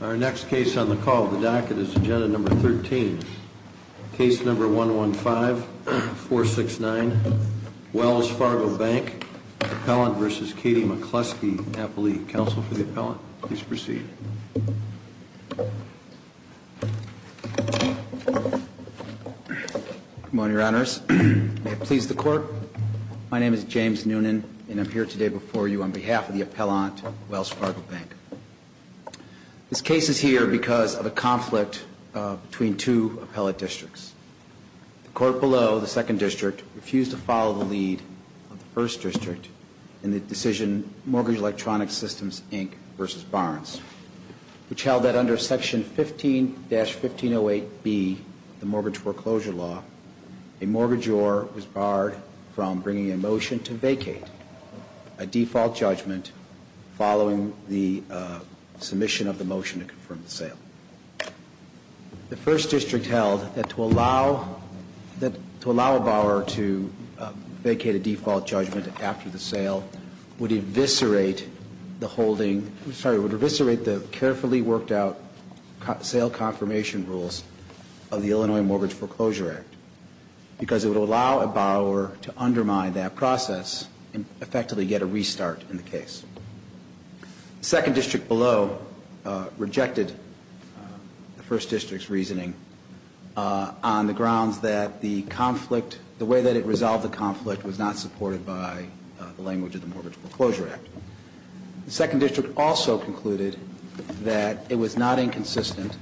Our next case on the call of the docket is Agenda No. 13, Case No. 115-469, Wells Fargo Bank, Appellant v. Katie McCluskey, Appellee Counsel for the Appellant. Please proceed. James Noonan Come on, Your Honors. May it please the Court, my name is James Noonan, and I'm here today before you on behalf of the Appellant, Wells Fargo Bank. This case is here because of a conflict between two appellate districts. The court below, the Second District, refused to follow the lead of the First District in the decision of Mortgage Electronics Systems, Inc. v. Barnes, which held that under Section 15-1508B, the Mortgage Foreclosure Law, a mortgagor was barred from bringing a motion to vacate a default judgment following the submission of the motion to confirm the sale. The First District held that to allow a borrower to vacate a default judgment after the sale would eviscerate the holding, sorry, would eviscerate the carefully worked out sale confirmation rules of the Illinois Mortgage Foreclosure Act, because it would allow a borrower to undermine that process and effectively get a restart in the case. The Second District below rejected the First District's reasoning on the grounds that the conflict, the way that it resolved the conflict was not supported by the language of the Mortgage Foreclosure Act. The Second District also concluded that it was not inconsistent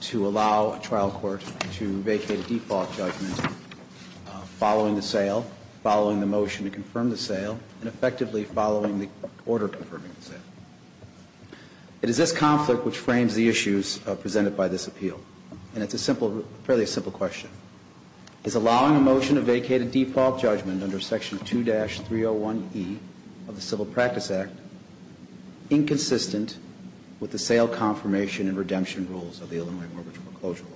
to allow a trial court to vacate a default judgment following the sale, following the motion to confirm the sale, and effectively following the order of confirming the sale. It is this conflict which frames the issues presented by this appeal. And it's a simple, fairly simple question. Is allowing a motion to vacate a default judgment under Section 2-301E of the Civil Practice Act inconsistent with the sale confirmation and redemption rules of the Illinois Mortgage Foreclosure Law?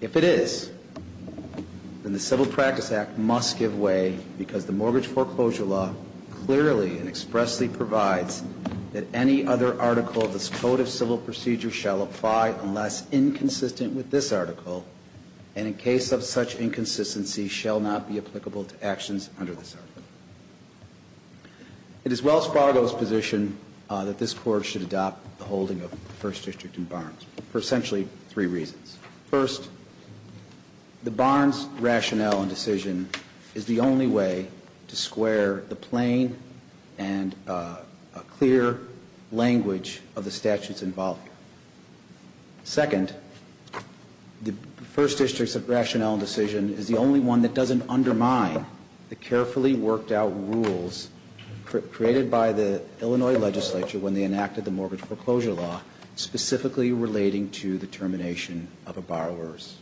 If it is, then the Civil Practice Act must give way, because the Mortgage Foreclosure Law clearly and expressly provides that any other article of the Code of Civil Practice cannot be applicable to actions under this article. It is Wells Fargo's position that this Court should adopt the holding of the First District in Barnes for essentially three reasons. First, the Barnes rationale and decision is the only way to square the plain and clear language of the statutes involved. Second, the First District's rationale and decision is the only one that doesn't undermine the carefully worked out rules created by the Illinois legislature when they enacted the Mortgage Foreclosure Law, specifically relating to the termination of a borrower's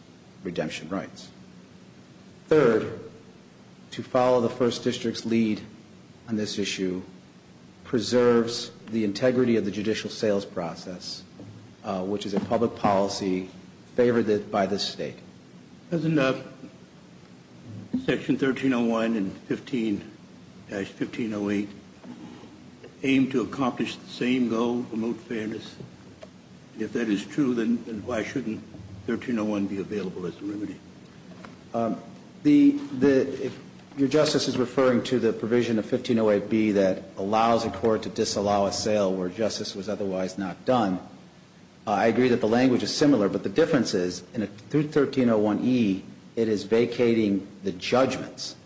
redemption rights. Third, to follow the First District's lead on this process, which is a public policy favored by this State. Doesn't Section 1301 and 15-1508 aim to accomplish the same goal, promote fairness? If that is true, then why shouldn't 1301 be available as a remedy? Your Justice is referring to the provision of 1508B that allows a court to disallow a sale where justice was otherwise not done. I agree that the language is similar, but the difference is, in 1301E, it is vacating the judgments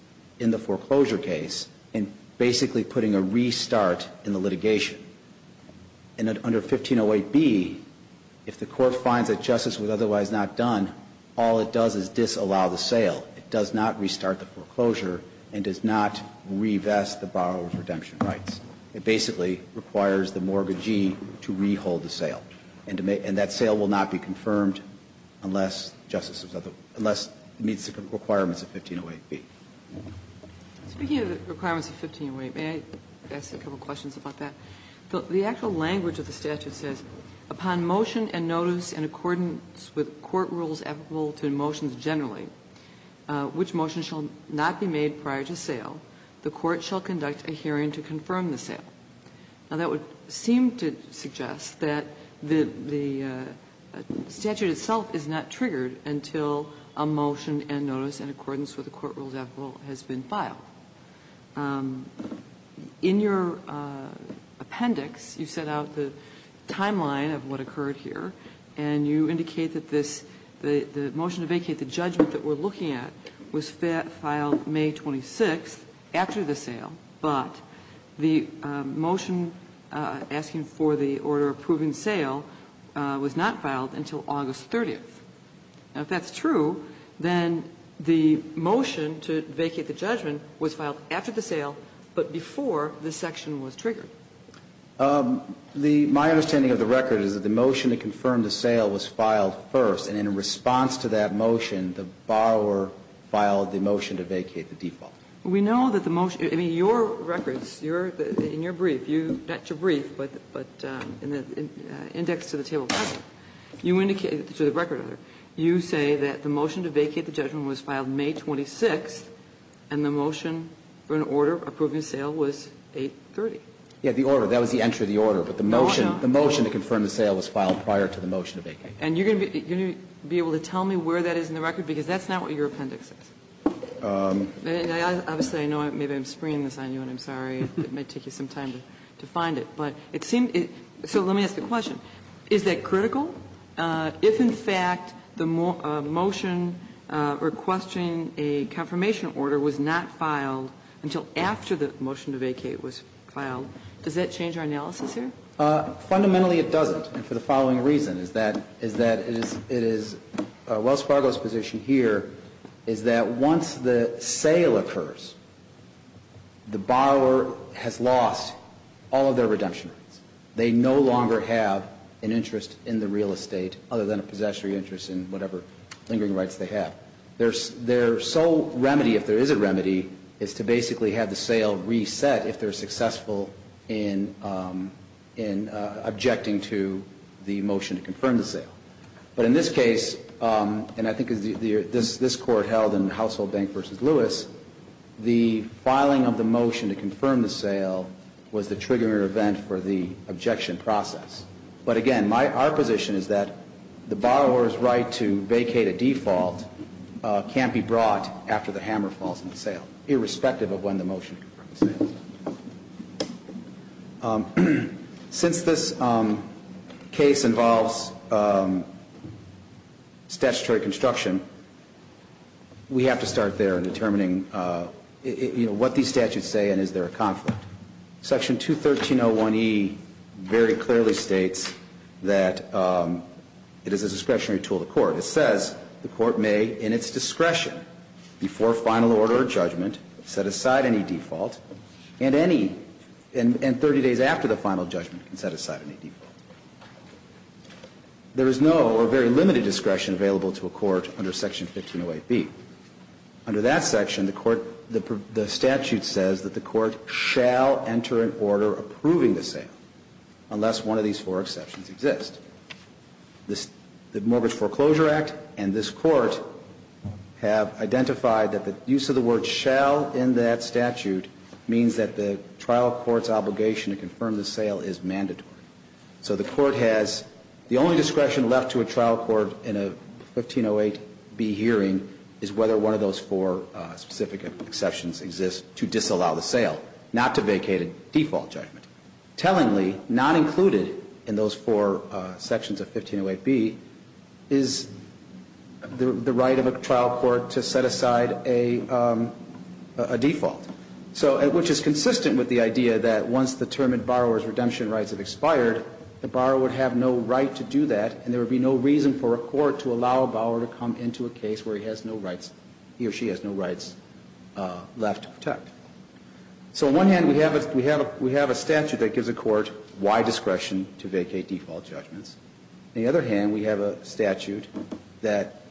in the foreclosure case and basically putting a restart in the litigation. And under 1508B, if the court finds that justice was otherwise not done, all it does is disallow the sale. It does not restart the foreclosure and does not revest the borrower's redemption rights. It basically requires the mortgagee to re-hold the sale. And that sale will not be confirmed unless justice was otherwise not done, unless it meets the requirements of 1508B. Speaking of the requirements of 1508, may I ask a couple of questions about that? The actual language of the statute says, Upon motion and notice in accordance with court rules applicable to motions generally, which motion shall not be made prior to sale, the court shall conduct a hearing to confirm the sale. Now, that would seem to suggest that the statute itself is not triggered until a motion and notice in accordance with the court rules applicable has been filed. In your appendix, you set out the timeline of what occurred here, and you indicate that this, the motion to vacate the judgment that we're looking at was filed May 26th after the sale, but the motion asking for the order approving sale was not filed until August 30th. Now, if that's true, then the motion to vacate the judgment was filed after the sale, but before this section was triggered. The my understanding of the record is that the motion to confirm the sale was filed first, and in response to that motion, the borrower filed the motion to vacate the default. We know that the motion, I mean, your records, your, in your brief, you, not your record, you say that the motion to vacate the judgment was filed May 26th, and the motion for an order approving sale was 830. Yeah, the order. That was the entry of the order, but the motion, the motion to confirm the sale was filed prior to the motion to vacate. And you're going to be able to tell me where that is in the record, because that's not what your appendix says. Obviously, I know maybe I'm springing this on you, and I'm sorry, it may take you some time to find it. But it seemed, so let me ask the question. Is that critical? If, in fact, the motion requesting a confirmation order was not filed until after the motion to vacate was filed, does that change our analysis here? Fundamentally, it doesn't, and for the following reason, is that it is Wells Fargo's position here is that once the sale occurs, the borrower has lost all of their redemption. They no longer have an interest in the real estate other than a possessory interest in whatever lingering rights they have. Their sole remedy, if there is a remedy, is to basically have the sale reset if they're successful in objecting to the motion to confirm the sale. But in this case, and I think this Court held in Household Bank v. Lewis, the filing of the motion to confirm the sale was the triggering event for the objection process. But again, our position is that the borrower's right to vacate a default can't be brought after the hammer falls on the sale, irrespective of when the motion to confirm the sale is filed. Since this case involves statutory construction, we have to start there in determining what these statutes say and is there a conflict. Section 213.01e very clearly states that it is a discretionary tool to court. It says the court may, in its discretion, before final order or judgment, set aside any default, and 30 days after the final judgment can set aside any default. There is no or very limited discretion available to a court under Section 1508b. Under that section, the statute says that the court shall enter an order approving the sale, unless one of these four exceptions exist. The Mortgage Foreclosure Act and this Court have identified that the use of the word shall in that statute means that the trial court's obligation to confirm the sale is mandatory. So the court has the only discretion left to a trial court in a 1508b hearing is whether one of those four specific exceptions exist to disallow the sale, not to vacate a default judgment. Tellingly, not included in those four sections of 1508b is the right of a trial court to set aside a default, which is consistent with the idea that once the term in borrower's exemption rights have expired, the borrower would have no right to do that and there would be no reason for a court to allow a borrower to come into a case where he has no rights, he or she has no rights left to protect. So on one hand, we have a statute that gives a court wide discretion to vacate default judgments. On the other hand, we have a statute that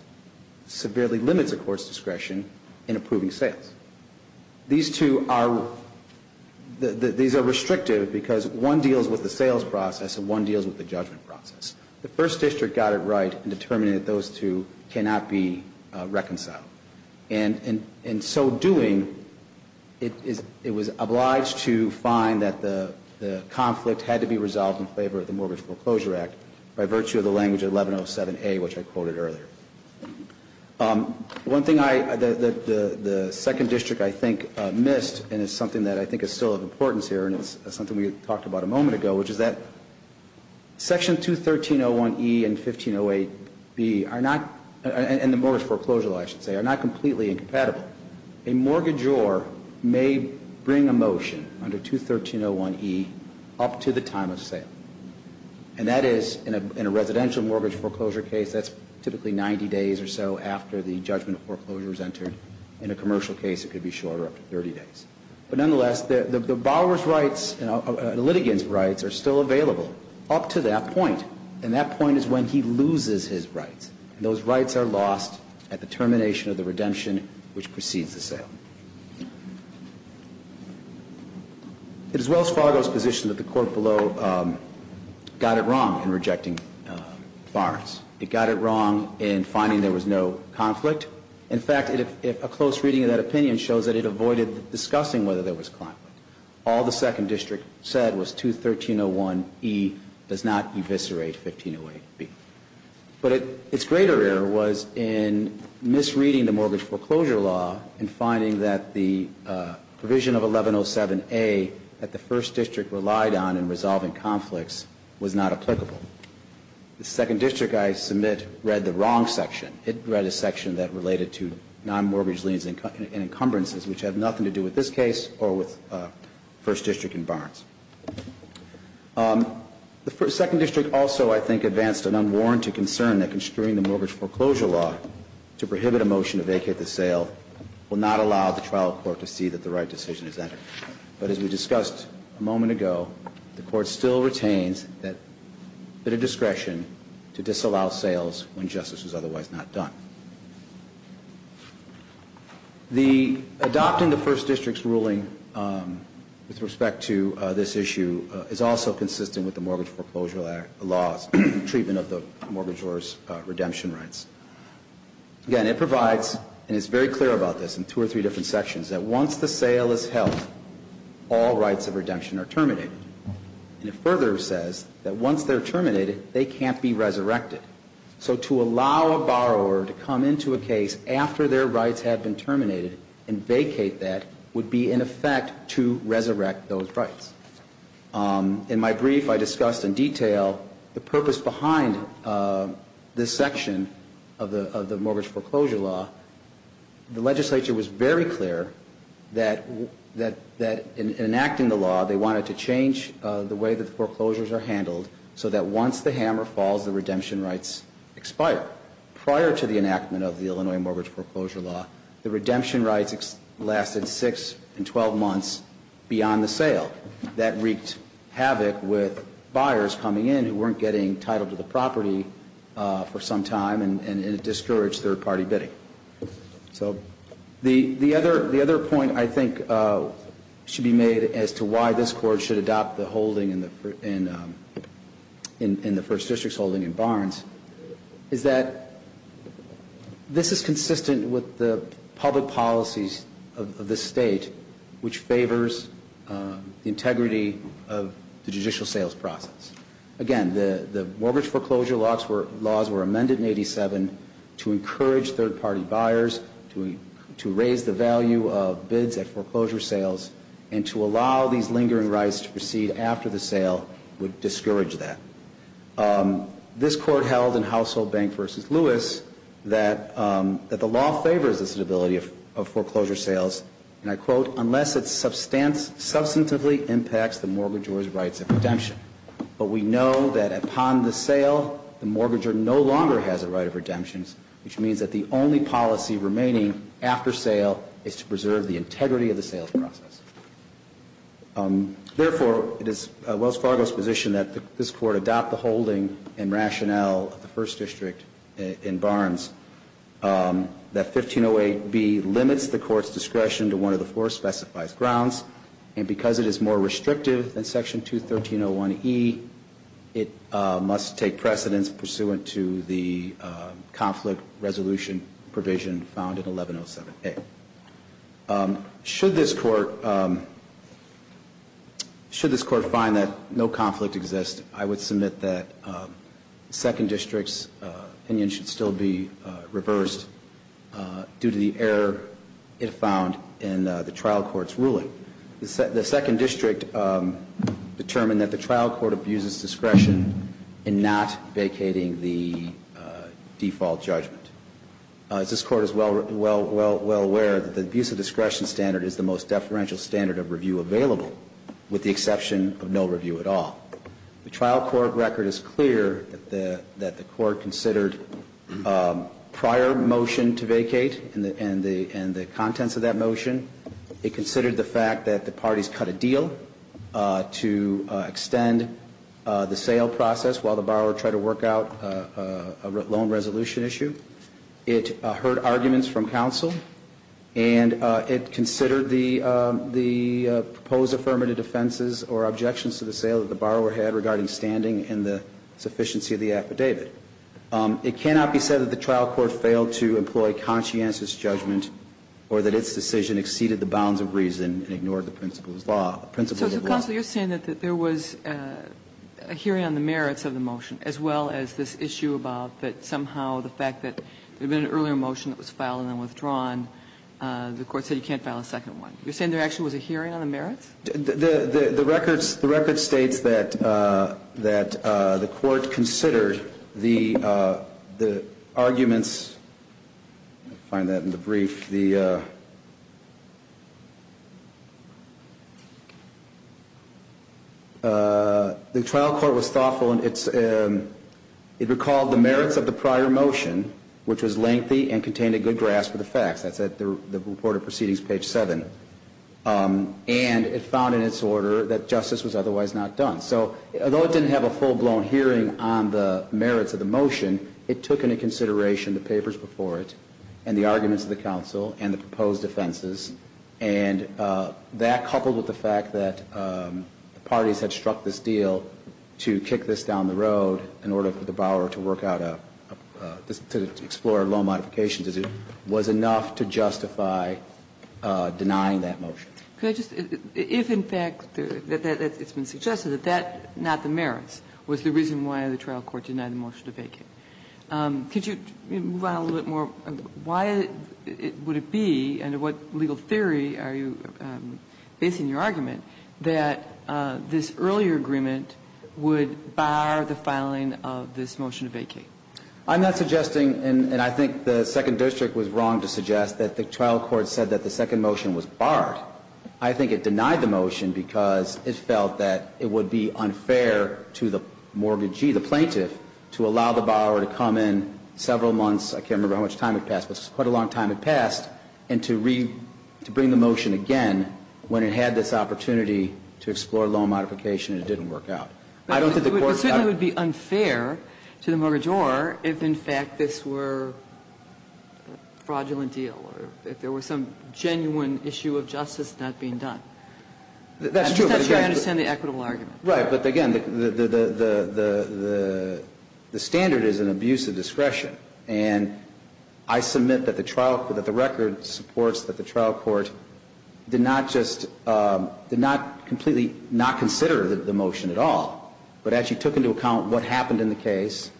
severely limits a court's discretion in approving sales. These two are, these are restrictive because one deals with the sales process and one deals with the judgment process. The First District got it right in determining that those two cannot be reconciled. And in so doing, it was obliged to find that the conflict had to be resolved in favor of the Mortgage Foreclosure Act by virtue of the language of 1107a, which I quoted earlier. One thing I, the Second District I think missed, and it's something that I think is still of importance here and it's something we talked about a moment ago, which is that Section 213.01e and 1508b are not, and the mortgage foreclosure law I should say, are not completely incompatible. A mortgagor may bring a motion under 213.01e up to the time of sale. And that is, in a residential mortgage foreclosure case, that's typically 90 days or so after the judgment foreclosure is entered. In a commercial case, it could be shorter, up to 30 days. But nonetheless, the borrower's rights, the litigant's rights are still available up to that point. And that point is when he loses his rights. Those rights are lost at the termination of the redemption which precedes the sale. It is Wells Fargo's position that the court below got it wrong in rejecting Barnes. It got it wrong in finding there was no conflict. In fact, a close reading of that opinion shows that it avoided discussing whether there was conflict. All the Second District said was 213.01e does not eviscerate 1508b. But its greater error was in misreading the mortgage foreclosure law and finding that the provision of 1107a that the First District relied on in resolving conflicts was not applicable. The Second District, I submit, read the wrong section. It read a section that related to non-mortgage liens and encumbrances which have nothing to do with this case or with First District and Barnes. The Second District also, I think, advanced an unwarranted concern that construing the trial court to see that the right decision is entered. But as we discussed a moment ago, the court still retains a bit of discretion to disallow sales when justice is otherwise not done. Adopting the First District's ruling with respect to this issue is also consistent with the Mortgage Foreclosure Law's treatment of the mortgagor's redemption rights. Again, it provides, and it's very clear about this in two or three different sections, that once the sale is held, all rights of redemption are terminated. And it further says that once they're terminated, they can't be resurrected. So to allow a borrower to come into a case after their rights have been terminated and vacate that would be, in effect, to resurrect those rights. In my brief, I discussed in detail the purpose behind this section of the Mortgage Foreclosure Law. The legislature was very clear that in enacting the law, they wanted to change the way that the foreclosures are handled so that once the hammer falls, the redemption rights expire. Prior to the enactment of the Illinois Mortgage Foreclosure Law, the redemption rights lasted six and a half years. And when the sale, that wreaked havoc with buyers coming in who weren't getting titled to the property for some time, and it discouraged third-party bidding. So the other point I think should be made as to why this Court should adopt the holding in the First District's holding in Barnes, is that this is consistent with the public policies of this State, which favors the integrity of the judicial sales process. Again, the Mortgage Foreclosure Laws were amended in 87 to encourage third-party buyers to raise the value of bids at foreclosure sales, and to allow these lingering rights to proceed after the sale would discourage that. This Court held in Household Bank v. Lewis that the law favors this inability of foreclosure sales, and I quote, unless it substantively impacts the mortgagor's rights of redemption. But we know that upon the sale, the mortgagor no longer has a right of redemption, which means that the only policy remaining after sale is to preserve the integrity of the sales process. Therefore, it is Wells Fargo's position that this Court adopt the holding and rationale of the First District in Barnes, that 1508B limits the Court's discretion to one of the four specified grounds, and because it is more restrictive than Section 213.01e, it must take precedence pursuant to the conflict resolution provision found in Section 213.01e. Should this Court find that no conflict exists, I would submit that the Second District's opinion should still be reversed due to the error it found in the trial court's ruling. The Second District determined that the trial court abuses discretion in not vacating the default judgment. As this Court is well aware, the abuse of discretion standard is the most deferential standard of review available, with the exception of no review at all. The trial court record is clear that the Court considered prior motion to vacate and the contents of that motion. It considered the fact that the parties cut a deal to extend the sale process while the borrower tried to work out a loan resolution issue. It heard arguments from counsel, and it considered the proposed affirmative defenses or objections to the sale that the borrower had regarding standing and the sufficiency of the affidavit. It cannot be said that the trial court failed to employ conscientious judgment or that its decision exceeded the bounds of reason and ignored the principles of law. So, counsel, you're saying that there was a hearing on the merits of the motion as well as this issue about that somehow the fact that there had been an earlier motion that was filed and then withdrawn, the Court said you can't file a second one. You're saying there actually was a hearing on the merits? The record states that the Court considered the arguments. I find that in the brief. The trial court was thoughtful. It recalled the merits of the prior motion, which was lengthy and contained a good grasp of the facts. That's at the report of proceedings, page 7. And it found in its order that justice was otherwise not done. So although it didn't have a full-blown hearing on the merits of the motion, it took into consideration the papers before it and the arguments of the counsel and the proposed offenses, and that, coupled with the fact that the parties had struck this deal to kick this down the road in order for the borrower to work out a, to explore a loan modification, was enough to justify denying that motion. If in fact it's been suggested that that, not the merits, was the reason why the trial court denied the motion to vacate, could you move on a little bit more? Why would it be, and what legal theory are you basing your argument that this earlier agreement would bar the filing of this motion to vacate? I'm not suggesting, and I think the Second District was wrong to suggest, that the trial court said that the second motion was barred. I think it denied the motion because it felt that it would be unfair to the mortgagee, the plaintiff, to allow the borrower to come in several months, I can't remember how much time had passed, but quite a long time had passed, and to bring the motion again when it had this opportunity to explore a loan modification and it didn't work out. I don't think the court thought it was fair. I don't think it was fair to the mortgagor if in fact this were a fraudulent deal or if there was some genuine issue of justice not being done. That's true, but again. I'm just not sure I understand the equitable argument. Right. But again, the standard is an abuse of discretion. And I submit that the trial, that the record supports that the trial court did not just, did not completely not consider the motion at all, but actually took into account what happened in the case,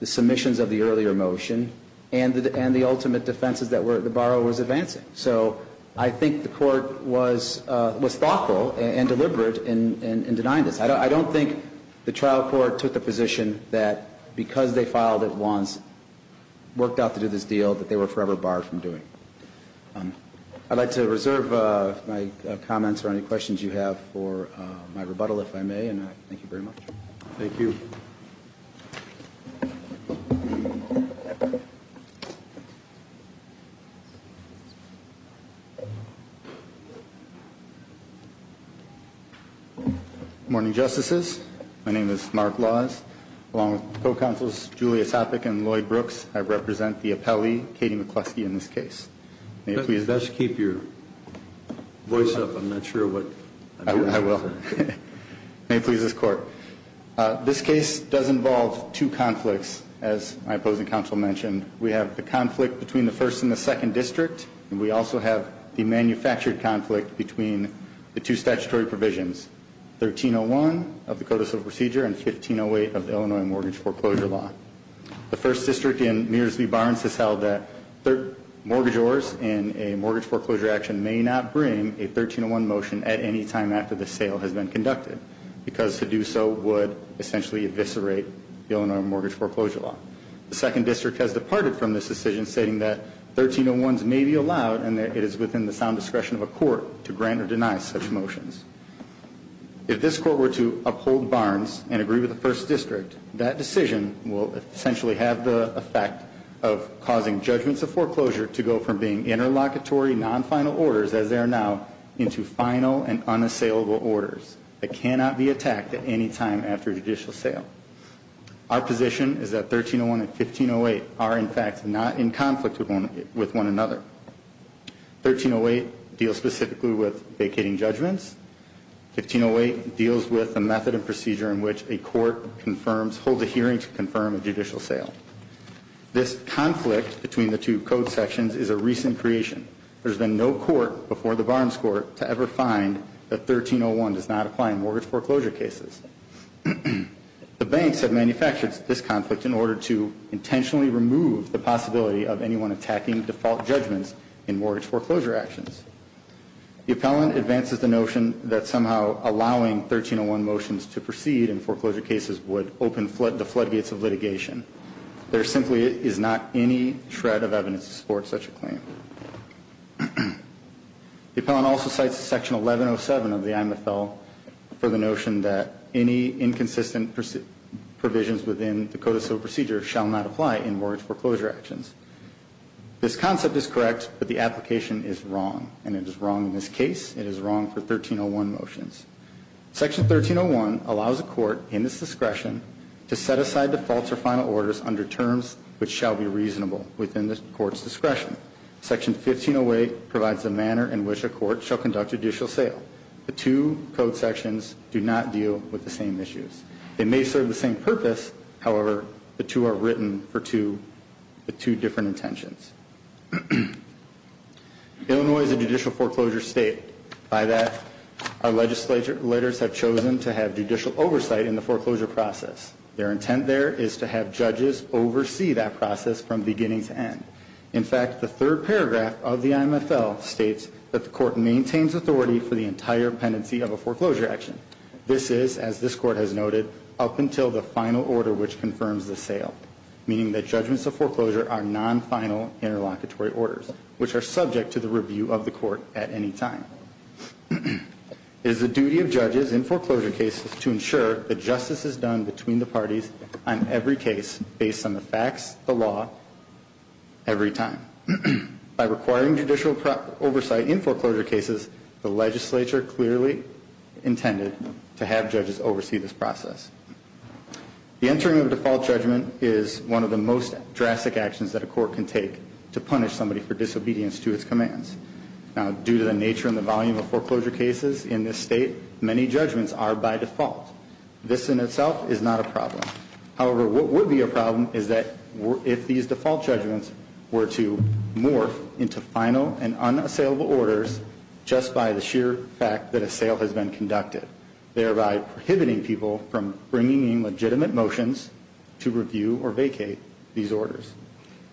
the submissions of the earlier motion, and the ultimate defenses that the borrower was advancing. So I think the court was thoughtful and deliberate in denying this. I don't think the trial court took the position that because they filed it once, worked out to do this deal, that they were forever barred from doing it. I'd like to reserve my comments or any questions you have for my rebuttal, if I may. And thank you very much. Thank you. Good morning, Justices. My name is Mark Laws. Along with the co-counsels Julia Sopik and Lloyd Brooks, I represent the appellee, Katie McCluskey, in this case. May it please the Court. Best keep your voice up. I'm not sure what I'm doing. I will. May it please this Court. This case does involve two conflicts, as my opposing counsel mentioned. We have the conflict between the first and the second district. We also have the manufactured conflict between the two statutory provisions, 1301 of the Code of Civil Procedure and 1508 of the Illinois Mortgage Foreclosure Law. The first district in Mears v. Barnes has held that mortgagors in a mortgage foreclosure action may not bring a 1301 motion at any time after the sale has been conducted because to do so would essentially eviscerate the Illinois Mortgage Foreclosure Law. The second district has departed from this decision, stating that 1301s may be allowed and that it is within the sound discretion of a court to grant or deny such motions. If this court were to uphold Barnes and agree with the first district, that decision will essentially have the effect of causing judgments of foreclosure to go from being interlocutory non-final orders, as they are now, into final and unassailable orders that cannot be attacked at any time after judicial sale. Our position is that 1301 and 1508 are, in fact, not in conflict with one another. 1308 deals specifically with vacating judgments. 1508 deals with the method and procedure in which a court holds a hearing to confirm a judicial sale. This conflict between the two code sections is a recent creation. There's been no court before the Barnes court to ever find that 1301 does not apply in mortgage foreclosure cases. The banks have manufactured this conflict in order to intentionally remove the possibility of anyone attacking default judgments in mortgage foreclosure actions. The appellant advances the notion that somehow allowing 1301 motions to proceed in foreclosure cases would open the floodgates of litigation. There simply is not any shred of evidence to support such a claim. The appellant also cites Section 1107 of the IMFL for the notion that any inconsistent provisions within the code of civil procedure shall not apply in mortgage foreclosure actions. This concept is correct, but the application is wrong, and it is wrong in this case. It is wrong for 1301 motions. Section 1301 allows a court in its discretion to set aside defaults or final orders under terms which shall be reasonable within the court's discretion. Section 1508 provides the manner in which a court shall conduct judicial sale. The two code sections do not deal with the same issues. They may serve the same purpose. However, the two are written for two different intentions. Illinois is a judicial foreclosure state. By that, our legislators have chosen to have judicial oversight in the foreclosure process. Their intent there is to have judges oversee that process from beginning to end. In fact, the third paragraph of the IMFL states that the court maintains authority for the entire pendency of a foreclosure action. This is, as this court has noted, up until the final order which confirms the sale, meaning that judgments of foreclosure are non-final interlocutory orders, which are subject to the review of the court at any time. It is the duty of judges in foreclosure cases to ensure that justice is done between the parties on every case based on the facts, the law, every time. By requiring judicial oversight in foreclosure cases, the legislature clearly intended to have judges oversee this process. The entering of a default judgment is one of the most drastic actions that a court can take to punish somebody for disobedience to its commands. Now, due to the nature and the volume of foreclosure cases in this state, many judgments are by default. This in itself is not a problem. However, what would be a problem is that if these default judgments were to morph into final and unassailable orders just by the sheer fact that a sale has been conducted, thereby prohibiting people from bringing in legitimate motions to review or vacate these orders.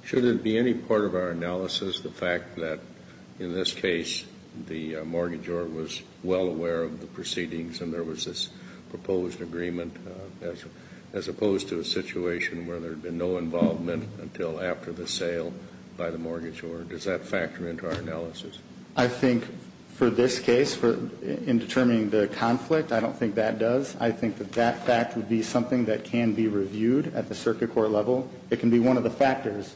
Should it be any part of our analysis the fact that, in this case, the mortgage owner was well aware of the proceedings and there was this proposed agreement, as opposed to a situation where there had been no involvement until after the sale by the mortgage owner? Does that factor into our analysis? I think for this case, in determining the conflict, I don't think that does. I think that that fact would be something that can be reviewed at the circuit court level. It can be one of the factors,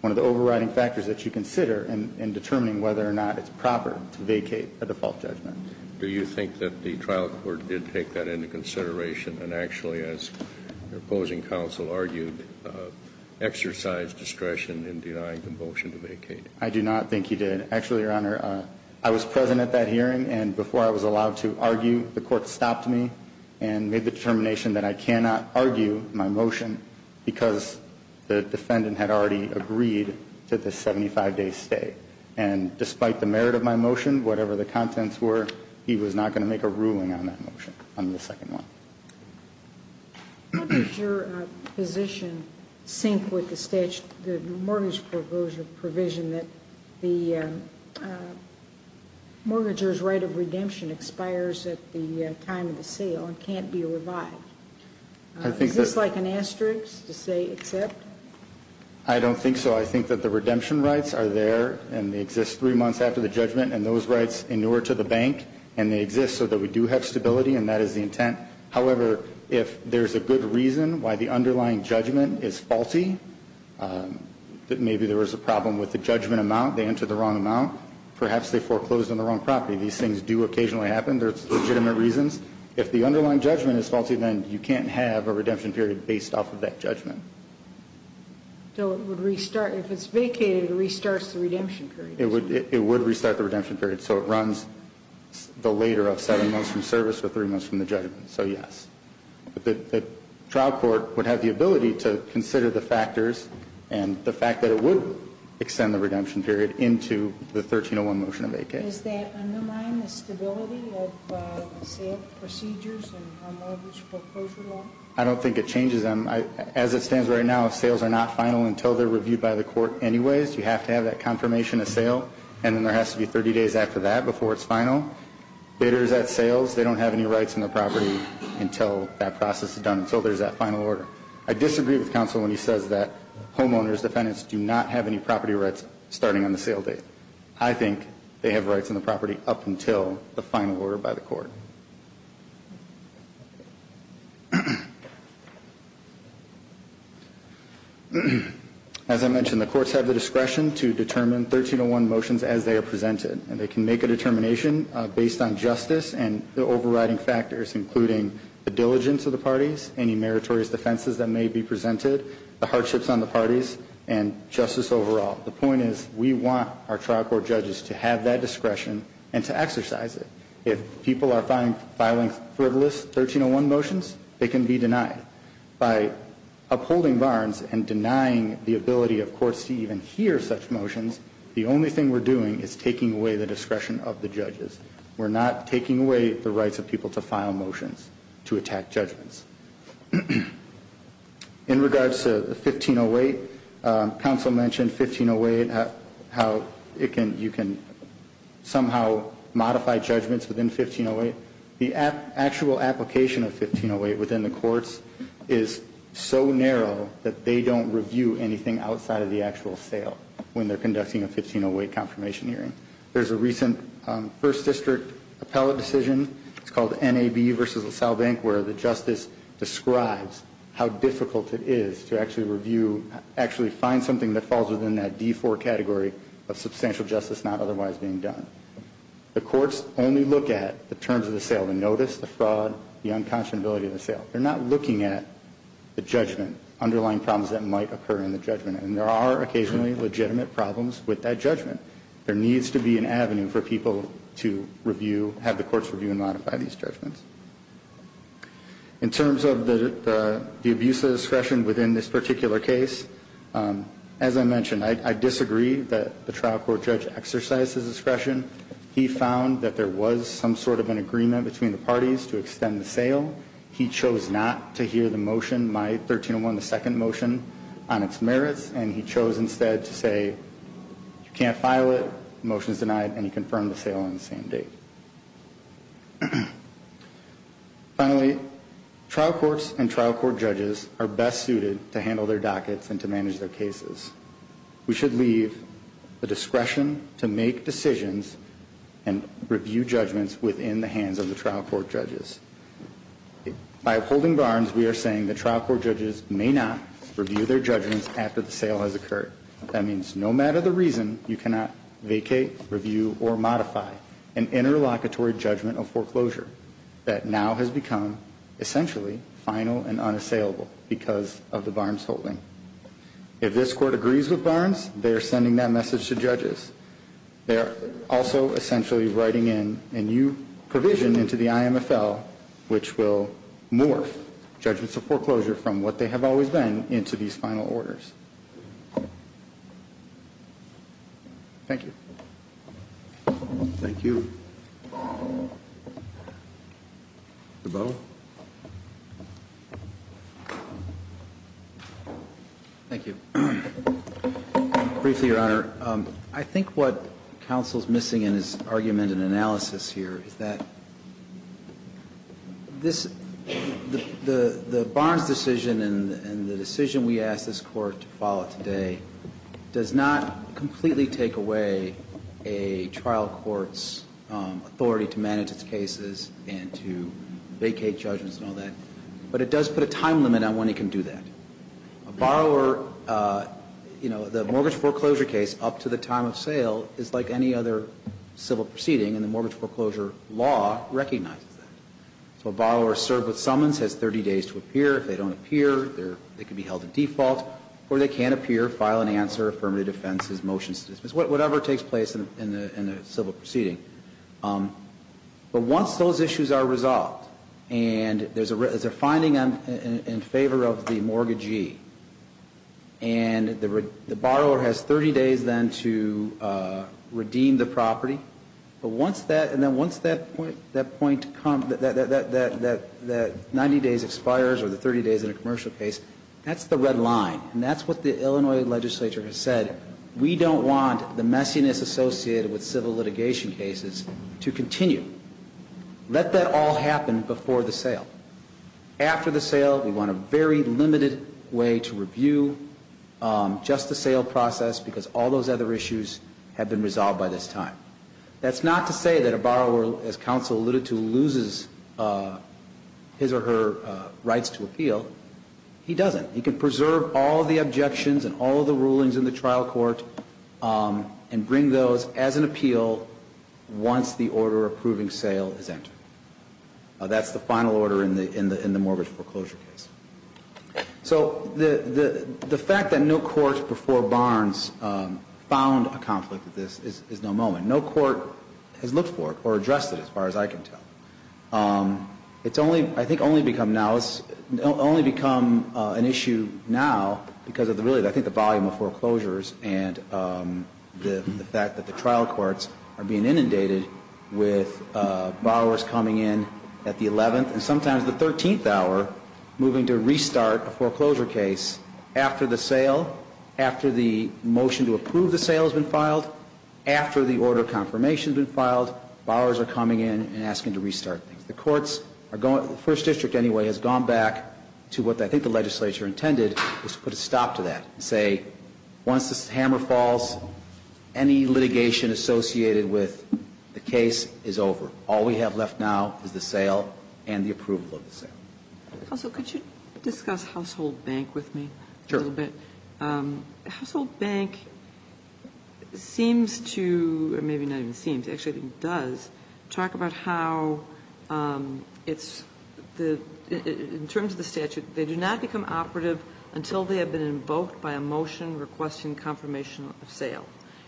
one of the overriding factors that you consider in determining whether or not it's proper to vacate a default judgment. Do you think that the trial court did take that into consideration and actually, as your opposing counsel argued, exercised discretion in denying the motion to vacate? I do not think he did. Actually, Your Honor, I was present at that hearing, and before I was allowed to argue, the court stopped me and made the determination that I cannot argue my motion because the defendant had already agreed to the 75-day stay. And despite the merit of my motion, whatever the contents were, he was not going to make a ruling on that motion, on the second one. How does your position sync with the mortgage provision that the mortgager's right of redemption expires at the time of the sale and can't be revived? Is this like an asterisk to say accept? I don't think so. I think that the redemption rights are there, and they exist three months after the judgment, and those rights inure to the bank, and they exist so that we do have stability, and that is the intent. However, if there's a good reason why the underlying judgment is faulty, that maybe there was a problem with the judgment amount, they entered the wrong amount, perhaps they foreclosed on the wrong property. These things do occasionally happen. There's legitimate reasons. If the underlying judgment is faulty, then you can't have a redemption period based off of that judgment. So it would restart. If it's vacated, it restarts the redemption period. It would restart the redemption period. So it runs the later of seven months from service or three months from the judgment. So, yes. But the trial court would have the ability to consider the factors and the fact that it would extend the redemption period into the 1301 motion of vacate. Does that undermine the stability of the sale procedures and the homeowner's foreclosure law? I don't think it changes them. As it stands right now, sales are not final until they're reviewed by the court anyways. You have to have that confirmation of sale, and then there has to be 30 days after that before it's final. Data is at sales. They don't have any rights on the property until that process is done, until there's that final order. I disagree with counsel when he says that homeowners, defendants, do not have any property rights starting on the sale date. I think they have rights on the property up until the final order by the court. As I mentioned, the courts have the discretion to determine 1301 motions as they are presented, and they can make a determination based on justice and the overriding factors, including the diligence of the parties, any meritorious defenses that may be presented, the hardships on the parties, and justice overall. The point is we want our trial court judges to have that discretion and to exercise it. If people are filing frivolous 1301 motions, they can be denied. By upholding Barnes and denying the ability of courts to even hear such motions, the only thing we're doing is taking away the discretion of the judges. We're not taking away the rights of people to file motions to attack judgments. In regards to 1508, counsel mentioned 1508, how you can somehow modify judgments within 1508. The actual application of 1508 within the courts is so narrow that they don't review anything outside of the actual sale when they're conducting a 1508 confirmation hearing. There's a recent first district appellate decision. It's called NAB versus LaSalle Bank, where the justice describes how difficult it is to actually review, actually find something that falls within that D4 category of substantial justice not otherwise being done. The courts only look at the terms of the sale, the notice, the fraud, the unconscionability of the sale. They're not looking at the judgment, underlying problems that might occur in the judgment, and there are occasionally legitimate problems with that judgment. There needs to be an avenue for people to review, have the courts review and modify these judgments. In terms of the abuse of discretion within this particular case, as I mentioned, I disagree that the trial court judge exercised his discretion. He found that there was some sort of an agreement between the parties to extend the sale. He chose not to hear the motion, my 1301, the second motion, on its merits, and he chose instead to say, you can't file it, the motion is denied, and he confirmed the sale on the same date. Finally, trial courts and trial court judges are best suited to handle their dockets and to manage their cases. We should leave the discretion to make decisions and review judgments within the hands of the trial court judges. By upholding Barnes, we are saying that trial court judges may not review their judgments after the sale has occurred. That means no matter the reason, you cannot vacate, review, or modify an interlocutory judgment of foreclosure that now has become essentially final and unassailable because of the Barnes holding. If this court agrees with Barnes, they are sending that message to judges. They are also essentially writing in a new provision into the IMFL which will morph judgments of foreclosure from what they have always been into these final orders. Thank you. Thank you. Mr. Bowe. Thank you. Briefly, Your Honor, I think what counsel is missing in his argument and analysis here is that the Barnes decision and the decision we ask this Court to follow today does not completely take away a trial court's authority to manage its cases and to vacate judgments and all that, but it does put a time limit on when it can do that. A borrower, you know, the mortgage foreclosure case up to the time of sale is like any other civil proceeding, and the mortgage foreclosure law recognizes that. So a borrower served with summons has 30 days to appear. If they don't appear, they can be held to default, or they can appear, file an answer, affirmative defense, motion to dismiss, whatever takes place in the civil proceeding. But once those issues are resolved and there is a finding in favor of the mortgage and the borrower has 30 days then to redeem the property, but once that, and then once that point, that 90 days expires or the 30 days in a commercial case, that's the red line, and that's what the Illinois legislature has said. We don't want the messiness associated with civil litigation cases to continue. Let that all happen before the sale. After the sale, we want a very limited way to review just the sale process because all those other issues have been resolved by this time. That's not to say that a borrower, as counsel alluded to, loses his or her rights to appeal. He doesn't. He can preserve all the objections and all the rulings in the trial court and bring those as an appeal once the order approving sale is entered. That's the final order in the mortgage foreclosure case. So the fact that no court before Barnes found a conflict with this is no moment. No court has looked for it or addressed it, as far as I can tell. It's only, I think, only become an issue now because of really I think the volume of foreclosures and the fact that the trial courts are being inundated with borrowers coming in at the 11th and sometimes the 13th hour moving to restart a foreclosure case after the sale, after the motion to approve the sale has been filed, after the order of confirmation has been filed, borrowers are coming in and asking to restart things. The courts are going, the first district anyway, has gone back to what I think the legislature intended was to put a stop to that and say, once this hammer falls, any litigation associated with the case is over. All we have left now is the sale and the approval of the sale. Kagan. Also, could you discuss Household Bank with me a little bit? Sure. Household Bank seems to, or maybe not even seems, actually does, talk about how it's the, in terms of the statute, they do not become operative until they have been invoked by a motion requesting confirmation of sale.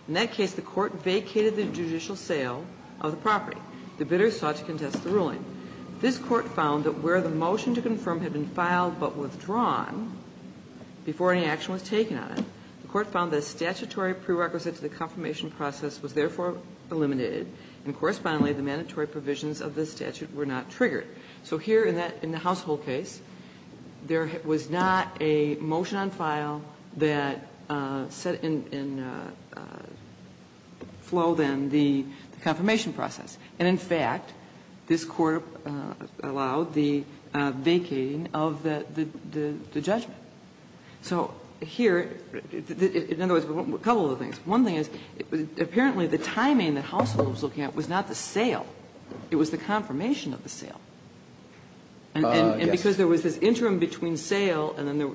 In that case, the court vacated the judicial sale of the property. The bidder sought to contest the ruling. This court found that where the motion to confirm had been filed but withdrawn before any action was taken on it, the court found that a statutory prerequisite to the confirmation process was therefore eliminated, and correspondingly the mandatory provisions of this statute were not triggered. So here in that, in the household case, there was not a motion on file that set in flow then the confirmation process. And in fact, this Court allowed the vacating of the judgment. So here, in other words, a couple of things. One thing is, apparently the timing the household was looking at was not the sale. It was the confirmation of the sale. And because there was this interim between sale and then there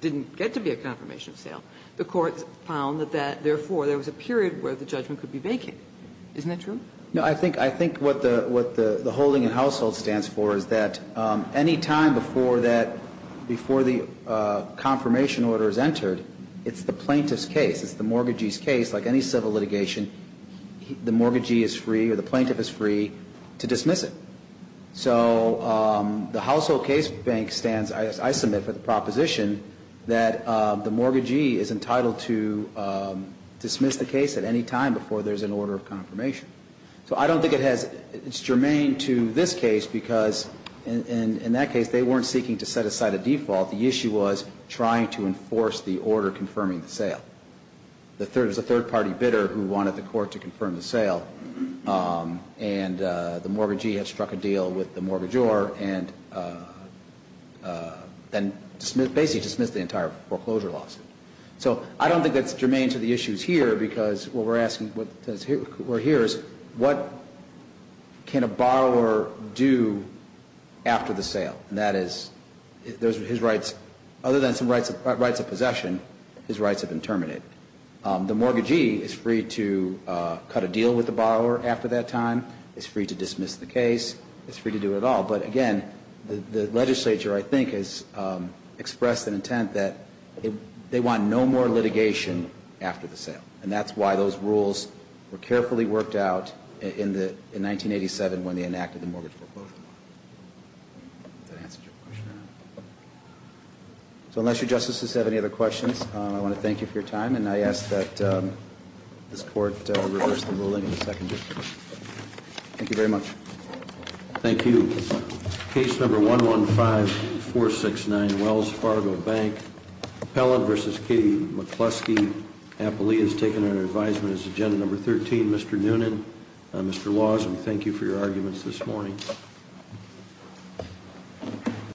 didn't get to be a confirmation of sale, the court found that therefore there was a period where the judgment could be vacated. Now, I think what the holding in household stands for is that any time before that, before the confirmation order is entered, it's the plaintiff's case. It's the mortgagee's case. Like any civil litigation, the mortgagee is free or the plaintiff is free to dismiss it. So the household case bank stands, as I submit for the proposition, that the mortgagee is entitled to dismiss the case at any time before there's an order of confirmation. So I don't think it has, it's germane to this case because in that case, they weren't seeking to set aside a default. The issue was trying to enforce the order confirming the sale. There was a third party bidder who wanted the court to confirm the sale. And the mortgagee had struck a deal with the mortgagor and basically dismissed the entire foreclosure lawsuit. So I don't think that's germane to the issues here because what we're asking, what we're here is what can a borrower do after the sale? And that is, those are his rights, other than some rights of possession, his rights have been terminated. The mortgagee is free to cut a deal with the borrower after that time. He's free to dismiss the case. He's free to do it all. But again, the legislature, I think, has expressed an intent that they want no more litigation after the sale. And that's why those rules were carefully worked out in 1987 when they enacted the mortgage foreclosure law. Does that answer your question? So unless your justices have any other questions, I want to thank you for your time. And I ask that this court reverse the ruling of the second judge. Thank you very much. Thank you. Case number 115469 Wells Fargo Bank. Appellant versus Katie McCluskey. Appellee is taken under advisement as agenda number 13. Mr. Noonan, Mr. Lawson, thank you for your arguments this morning.